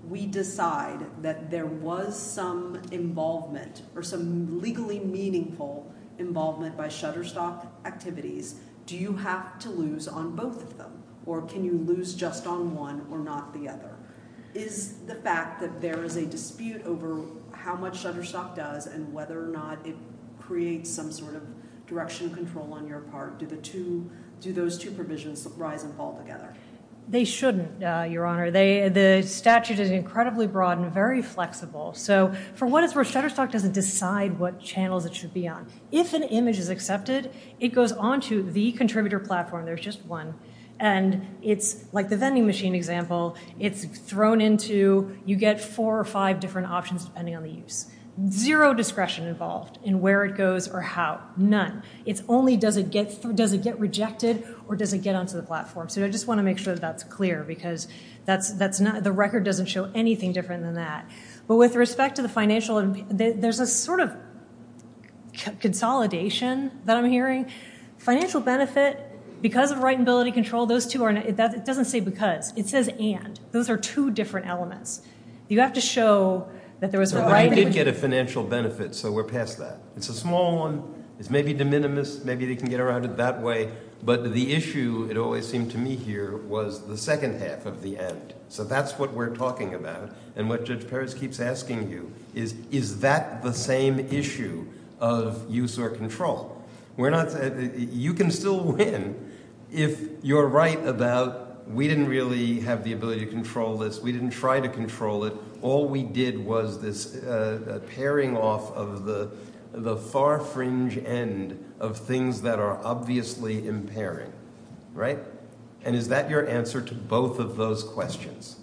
we decide that there was some involvement or some legally meaningful involvement by shutterstock activities, do you have to lose on both of them, or can you lose just on one or not the other? Is the fact that there is a dispute over how much shutterstock does and whether or not it creates some sort of direction control on your part, do those two provisions rise and fall together? They shouldn't, Your Honor. The statute is incredibly broad and very flexible. So for what it's worth, shutterstock doesn't decide what channels it should be on. If an image is accepted, it goes on to the contributor platform. There's just one. And it's like the vending machine example. It's thrown into you get four or five different options depending on the use. Zero discretion involved in where it goes or how. None. It's only does it get rejected or does it get onto the platform. So I just want to make sure that that's clear because the record doesn't show anything different than that. But with respect to the financial, there's a sort of consolidation that I'm hearing. Financial benefit, because of right and ability to control, it doesn't say because. It says and. Those are two different elements. You have to show that there was a right. But it did get a financial benefit, so we're past that. It's a small one. It's maybe de minimis. Maybe they can get around it that way. But the issue, it always seemed to me here, was the second half of the and. So that's what we're talking about. And what Judge Perez keeps asking you is, is that the same issue of use or control? You can still win if you're right about we didn't really have the ability to control this. We didn't try to control it. All we did was this paring off of the far fringe end of things that are obviously impairing. Right? And is that your answer to both of those questions?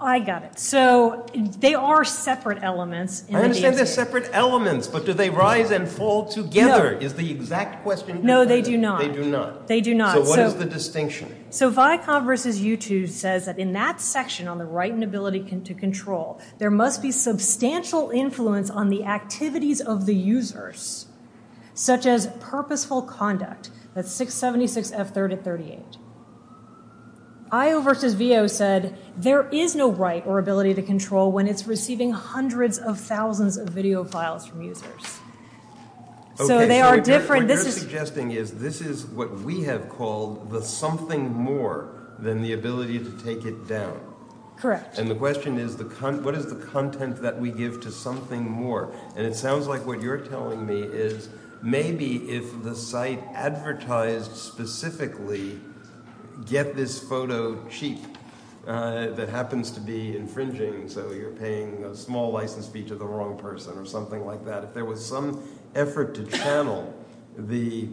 I got it. So they are separate elements. I understand they're separate elements, but do they rise and fall together is the exact question. No, they do not. They do not. So what is the distinction? So VICOV versus U2 says that in that section on the right and ability to control, there must be substantial influence on the activities of the users, such as purposeful conduct. That's 676F3038. IO versus VO said there is no right or ability to control when it's receiving hundreds of thousands of video files from users. So they are different. What you're suggesting is this is what we have called the something more than the ability to take it down. Correct. And the question is what is the content that we give to something more? And it sounds like what you're telling me is maybe if the site advertised specifically get this photo cheap that happens to be infringing, so you're paying a small license fee to the wrong person or something like that, if there was some effort to channel the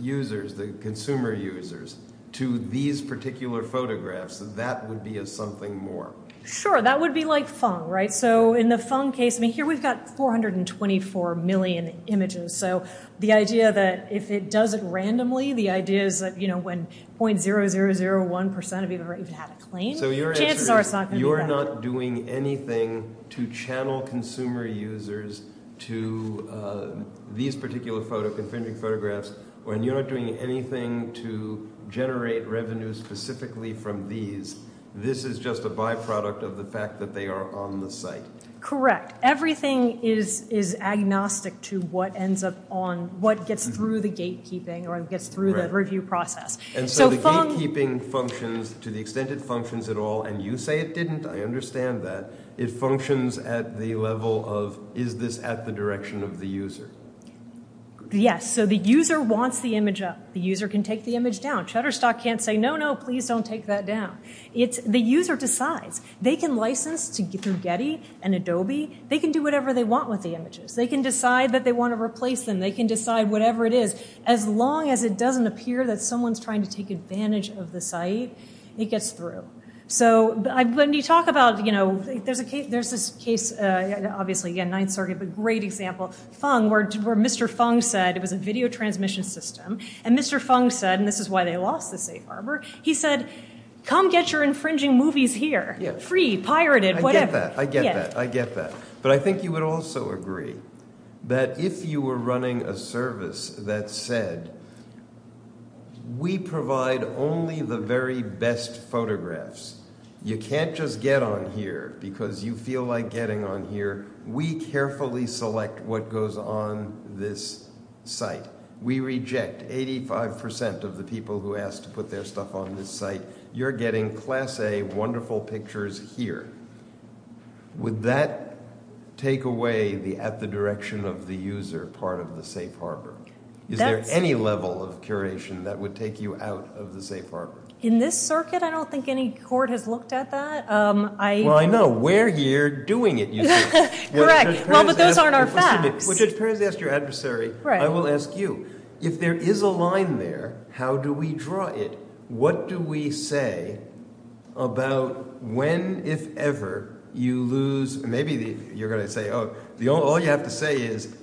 users, the consumer users, to these particular photographs, that would be a something more. Sure. That would be like phung, right? So in the phung case, I mean, here we've got 424 million images. So the idea that if it does it randomly, the idea is that, you know, when .0001% of people have had a claim, chances are it's not going to be random. When you're not doing anything to channel consumer users to these particular photo, infringing photographs, when you're not doing anything to generate revenues specifically from these, this is just a byproduct of the fact that they are on the site. Correct. Everything is agnostic to what ends up on, what gets through the gatekeeping or gets through the review process. And so the gatekeeping functions to the extent it functions at all, and you say it didn't. I understand that. It functions at the level of is this at the direction of the user? Yes. So the user wants the image up. The user can take the image down. Shutterstock can't say, no, no, please don't take that down. The user decides. They can license through Getty and Adobe. They can do whatever they want with the images. They can decide that they want to replace them. They can decide whatever it is. As long as it doesn't appear that someone's trying to take advantage of the site, it gets through. So when you talk about, you know, there's this case, obviously, again, Ninth Circuit, but great example, Fung, where Mr. Fung said it was a video transmission system. And Mr. Fung said, and this is why they lost the safe harbor, he said, come get your infringing movies here, free, pirated, whatever. I get that. I get that. I get that. But if you were running a service that said, we provide only the very best photographs. You can't just get on here because you feel like getting on here. We carefully select what goes on this site. We reject 85% of the people who ask to put their stuff on this site. You're getting class A wonderful pictures here. Would that take away the at the direction of the user part of the safe harbor? Is there any level of curation that would take you out of the safe harbor? In this circuit, I don't think any court has looked at that. Well, I know. We're here doing it. Correct. Well, but those aren't our facts. Judge Perez asked your adversary. I will ask you. If there is a line there, how do we draw it? What do we say about when, if ever, you lose? Maybe you're going to say, oh, all you have to say is,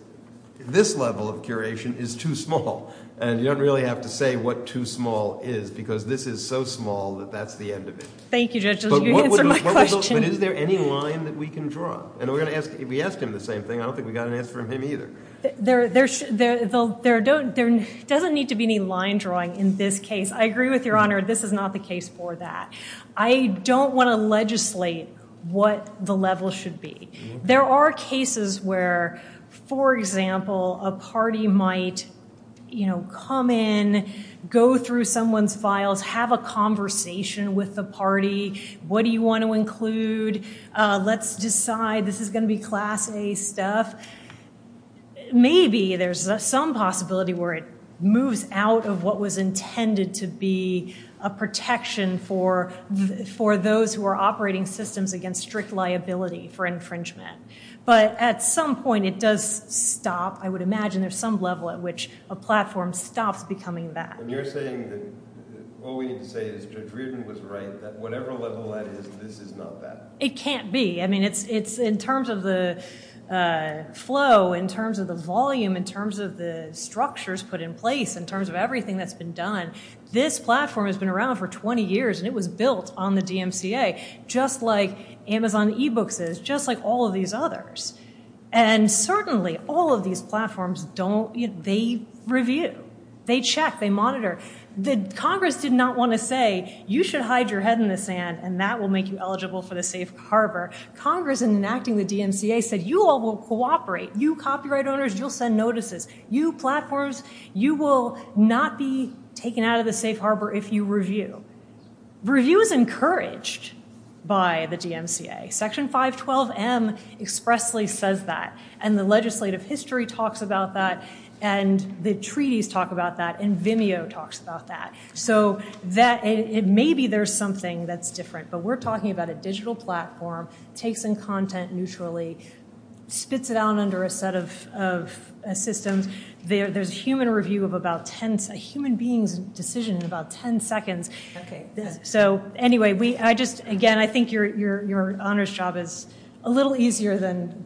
this level of curation is too small. And you don't really have to say what too small is because this is so small that that's the end of it. Thank you, Judge. You answered my question. But is there any line that we can draw? And we asked him the same thing. I don't think we got an answer from him either. There doesn't need to be any line drawing in this case. I agree with Your Honor. This is not the case for that. I don't want to legislate what the level should be. There are cases where, for example, a party might come in, go through someone's files, have a conversation with the party. What do you want to include? Let's decide this is going to be Class A stuff. Maybe there's some possibility where it moves out of what was intended to be a protection for those who are operating systems against strict liability for infringement. But at some point, it does stop. I would imagine there's some level at which a platform stops becoming that. And you're saying that all we need to say is Judge Reardon was right, that whatever level that is, this is not that. It can't be. I mean, it's in terms of the flow, in terms of the volume, in terms of the structures put in place, in terms of everything that's been done. This platform has been around for 20 years, and it was built on the DMCA just like Amazon eBooks is, just like all of these others. And certainly, all of these platforms, they review. They check. They monitor. Congress did not want to say, you should hide your head in the sand, and that will make you eligible for the safe harbor. Congress, in enacting the DMCA, said, you all will cooperate. You copyright owners, you'll send notices. You platforms, you will not be taken out of the safe harbor if you review. Review is encouraged by the DMCA. Section 512M expressly says that. And the legislative history talks about that. And the treaties talk about that. And Vimeo talks about that. So maybe there's something that's different. But we're talking about a digital platform, takes in content neutrally, spits it out under a set of systems. There's a human being's decision in about 10 seconds. So anyway, again, I think your honors job is a little easier than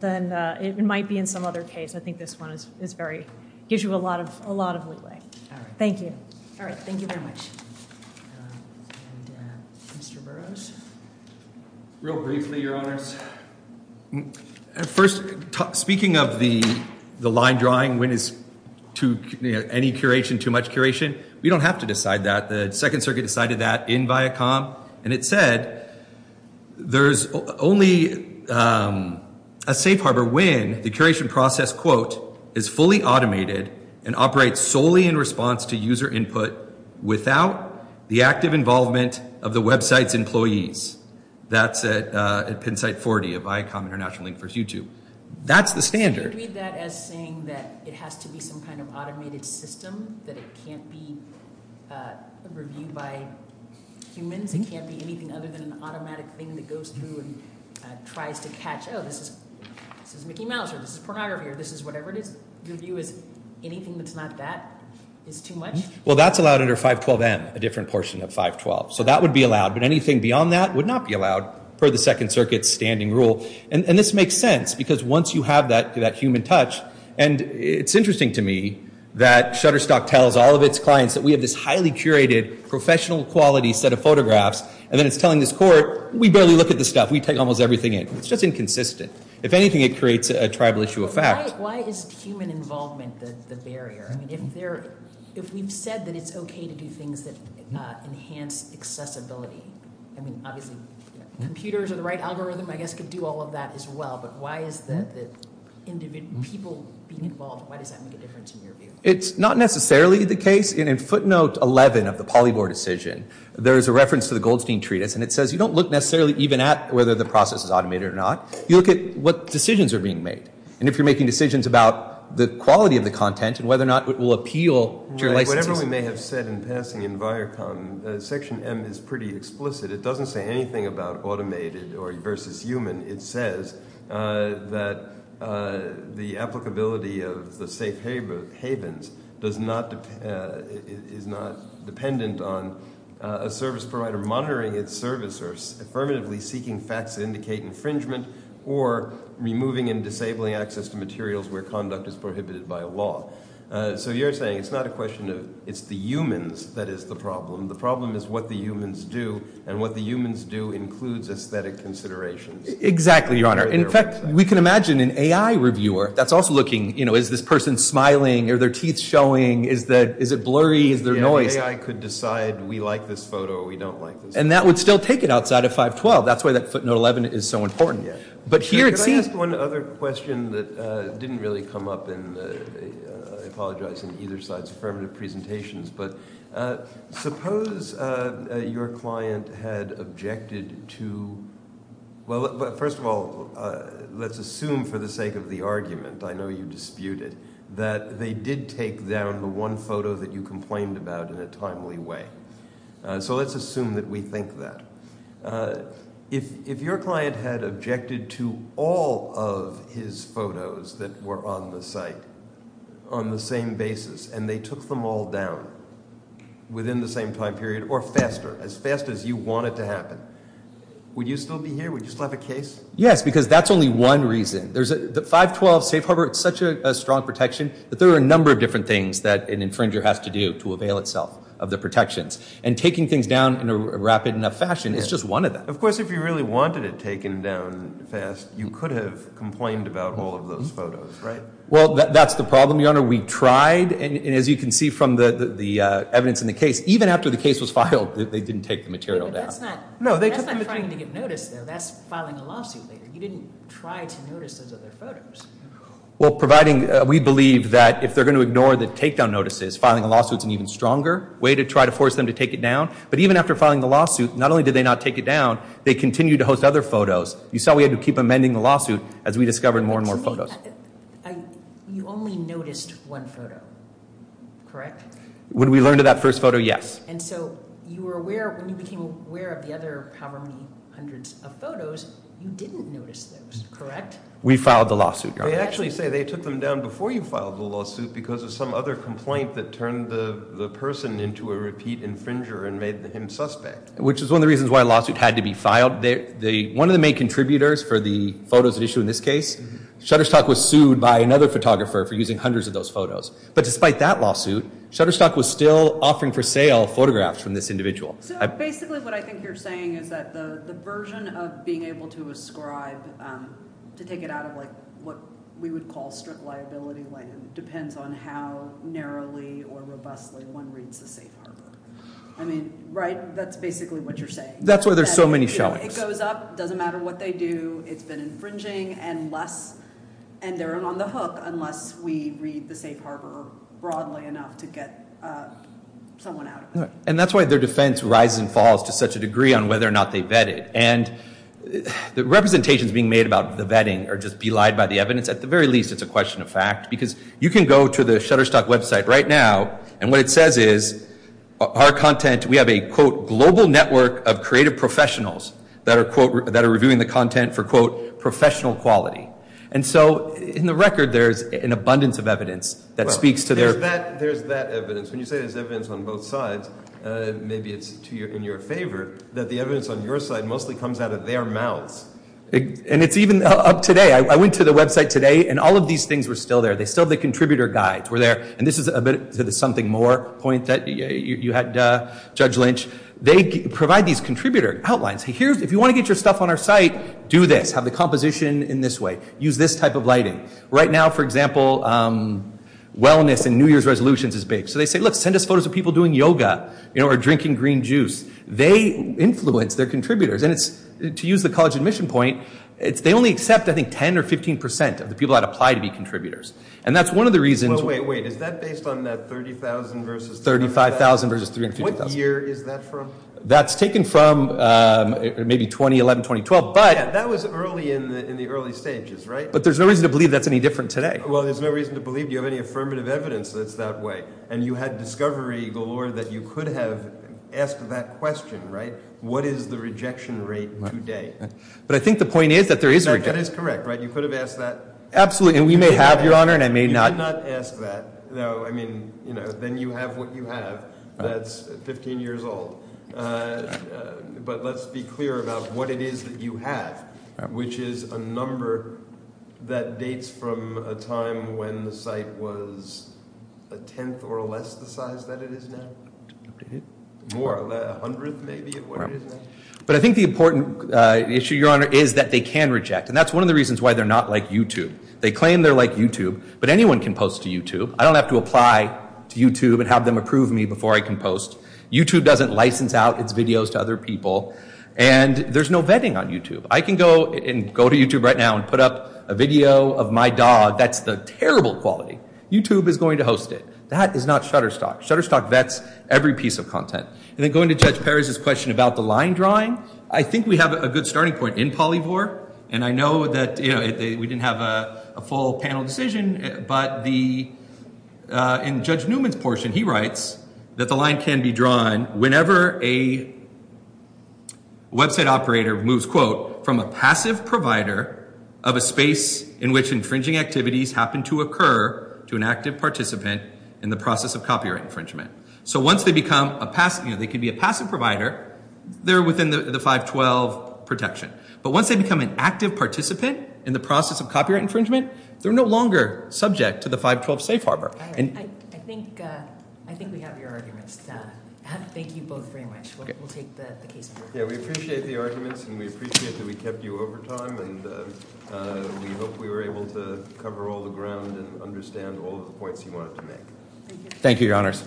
it might be in some other case. I think this one gives you a lot of leeway. Thank you. All right, thank you very much. Mr. Burroughs? Real briefly, your honors. First, speaking of the line drawing, when is any curation too much curation? We don't have to decide that. The Second Circuit decided that in Viacom. And it said, there's only a safe harbor when the curation process, quote, is fully automated and operates solely in response to user input without the active involvement of the website's employees. That's at pen site 40 of Viacom International, Inc. versus YouTube. That's the standard. I read that as saying that it has to be some kind of automated system, that it can't be reviewed by humans. It can't be anything other than an automatic thing that goes through and tries to catch, oh, this is Mickey Mouse, or this is pornography, or this is whatever it is. Your view is anything that's not that is too much? Well, that's allowed under 512M, a different portion of 512. So that would be allowed. But anything beyond that would not be allowed per the Second Circuit's standing rule. And this makes sense because once you have that human touch, and it's interesting to me that Shutterstock tells all of its clients that we have this highly curated, professional quality set of photographs, and then it's telling this court, we barely look at this stuff. We take almost everything in. It's just inconsistent. If anything, it creates a tribal issue of fact. Why is human involvement the barrier? If we've said that it's okay to do things that enhance accessibility, I mean, obviously computers are the right algorithm, I guess, to do all of that as well. But why is the people being involved, why does that make a difference in your view? It's not necessarily the case. In footnote 11 of the PolyBor decision, there is a reference to the Goldstein Treatise, and it says you don't look necessarily even at whether the process is automated or not. You look at what decisions are being made, and if you're making decisions about the quality of the content and whether or not it will appeal to your licenses. Whatever we may have said in passing in Viacom, Section M is pretty explicit. It doesn't say anything about automated versus human. It says that the applicability of the safe havens is not dependent on a service provider monitoring its service or affirmatively seeking facts that indicate infringement or removing and disabling access to materials where conduct is prohibited by law. So you're saying it's not a question of it's the humans that is the problem. The problem is what the humans do, and what the humans do includes aesthetic considerations. Exactly, Your Honor. In fact, we can imagine an AI reviewer that's also looking, you know, is this person smiling? Are their teeth showing? Is it blurry? Is there noise? Yeah, AI could decide we like this photo or we don't like this photo. And that would still take it outside of 512. That's why that footnote 11 is so important. Could I ask one other question that didn't really come up in the, I apologize, in either side's affirmative presentations? But suppose your client had objected to, well, first of all, let's assume for the sake of the argument, I know you disputed, that they did take down the one photo that you complained about in a timely way. So let's assume that we think that. If your client had objected to all of his photos that were on the site on the same basis, and they took them all down within the same time period or faster, as fast as you want it to happen, would you still be here? Would you still have a case? Yes, because that's only one reason. The 512 safe harbor, it's such a strong protection that there are a number of different things that an infringer has to do to avail itself of the protections. And taking things down in a rapid enough fashion is just one of them. Of course, if you really wanted it taken down fast, you could have complained about all of those photos, right? Well, that's the problem, Your Honor. We tried, and as you can see from the evidence in the case, even after the case was filed, they didn't take the material down. But that's not trying to get noticed, though. That's filing a lawsuit later. You didn't try to notice those other photos. Well, providing we believe that if they're going to ignore the takedown notices, filing a lawsuit is an even stronger way to try to force them to take it down. But even after filing the lawsuit, not only did they not take it down, they continued to host other photos. You saw we had to keep amending the lawsuit as we discovered more and more photos. You only noticed one photo, correct? When we learned of that first photo, yes. And so you were aware, when you became aware of the other however many hundreds of photos, you didn't notice those, correct? We filed the lawsuit, Your Honor. They actually say they took them down before you filed the lawsuit because of some other complaint that turned the person into a repeat infringer and made him suspect. Which is one of the reasons why a lawsuit had to be filed. One of the main contributors for the photos at issue in this case, Shutterstock was sued by another photographer for using hundreds of those photos. But despite that lawsuit, Shutterstock was still offering for sale photographs from this individual. So basically what I think you're saying is that the version of being able to ascribe, to take it out of what we would call strict liability land, depends on how narrowly or robustly one reads the safe harbor. I mean, right? That's basically what you're saying. That's why there's so many showings. It goes up, it doesn't matter what they do, it's been infringing, and they're on the hook unless we read the safe harbor broadly enough to get someone out of it. And that's why their defense rises and falls to such a degree on whether or not they vet it. And the representations being made about the vetting are just belied by the evidence. At the very least, it's a question of fact. Because you can go to the Shutterstock website right now, and what it says is our content, we have a, quote, global network of creative professionals that are, quote, that are reviewing the content for, quote, professional quality. And so in the record, there's an abundance of evidence that speaks to their- There's that evidence. When you say there's evidence on both sides, maybe it's in your favor, that the evidence on your side mostly comes out of their mouths. And it's even up today. I went to the website today, and all of these things were still there. They still have the contributor guides were there. And this is a bit to the something more point that you had, Judge Lynch. They provide these contributor outlines. If you want to get your stuff on our site, do this. Have the composition in this way. Use this type of lighting. Right now, for example, wellness and New Year's resolutions is big. So they say, look, send us photos of people doing yoga or drinking green juice. They influence their contributors. And to use the college admission point, they only accept, I think, 10% or 15% of the people that apply to be contributors. And that's one of the reasons- Well, wait, wait. Is that based on that 30,000 versus- 35,000 versus 350,000. What year is that from? That's taken from maybe 2011, 2012. But- Yeah, that was early in the early stages, right? But there's no reason to believe that's any different today. Well, there's no reason to believe you have any affirmative evidence that it's that way. And you had discovery galore that you could have asked that question, right? What is the rejection rate today? But I think the point is that there is- That is correct, right? You could have asked that. Absolutely. And we may have, Your Honor, and I may not. You did not ask that. No, I mean, then you have what you have. That's 15 years old. But let's be clear about what it is that you have, which is a number that dates from a time when the site was a tenth or less the size that it is now? More, a hundredth maybe of what it is now? But I think the important issue, Your Honor, is that they can reject. And that's one of the reasons why they're not like YouTube. They claim they're like YouTube, but anyone can post to YouTube. I don't have to apply to YouTube and have them approve me before I can post. YouTube doesn't license out its videos to other people. And there's no vetting on YouTube. I can go to YouTube right now and put up a video of my dog. That's the terrible quality. YouTube is going to host it. That is not Shutterstock. Shutterstock vets every piece of content. And then going to Judge Perez's question about the line drawing, I think we have a good starting point in Polyvore. And I know that we didn't have a full panel decision. But in Judge Newman's portion, he writes that the line can be drawn whenever a website operator moves, quote, from a passive provider of a space in which infringing activities happen to occur to an active participant in the process of copyright infringement. So once they become a passive, you know, they can be a passive provider, they're within the 512 protection. But once they become an active participant in the process of copyright infringement, they're no longer subject to the 512 safe harbor. I think we have your arguments. Thank you both very much. We'll take the case. Yeah, we appreciate the arguments, and we appreciate that we kept you over time. And we hope we were able to cover all the ground and understand all of the points you wanted to make. Thank you. Thank you, Your Honors.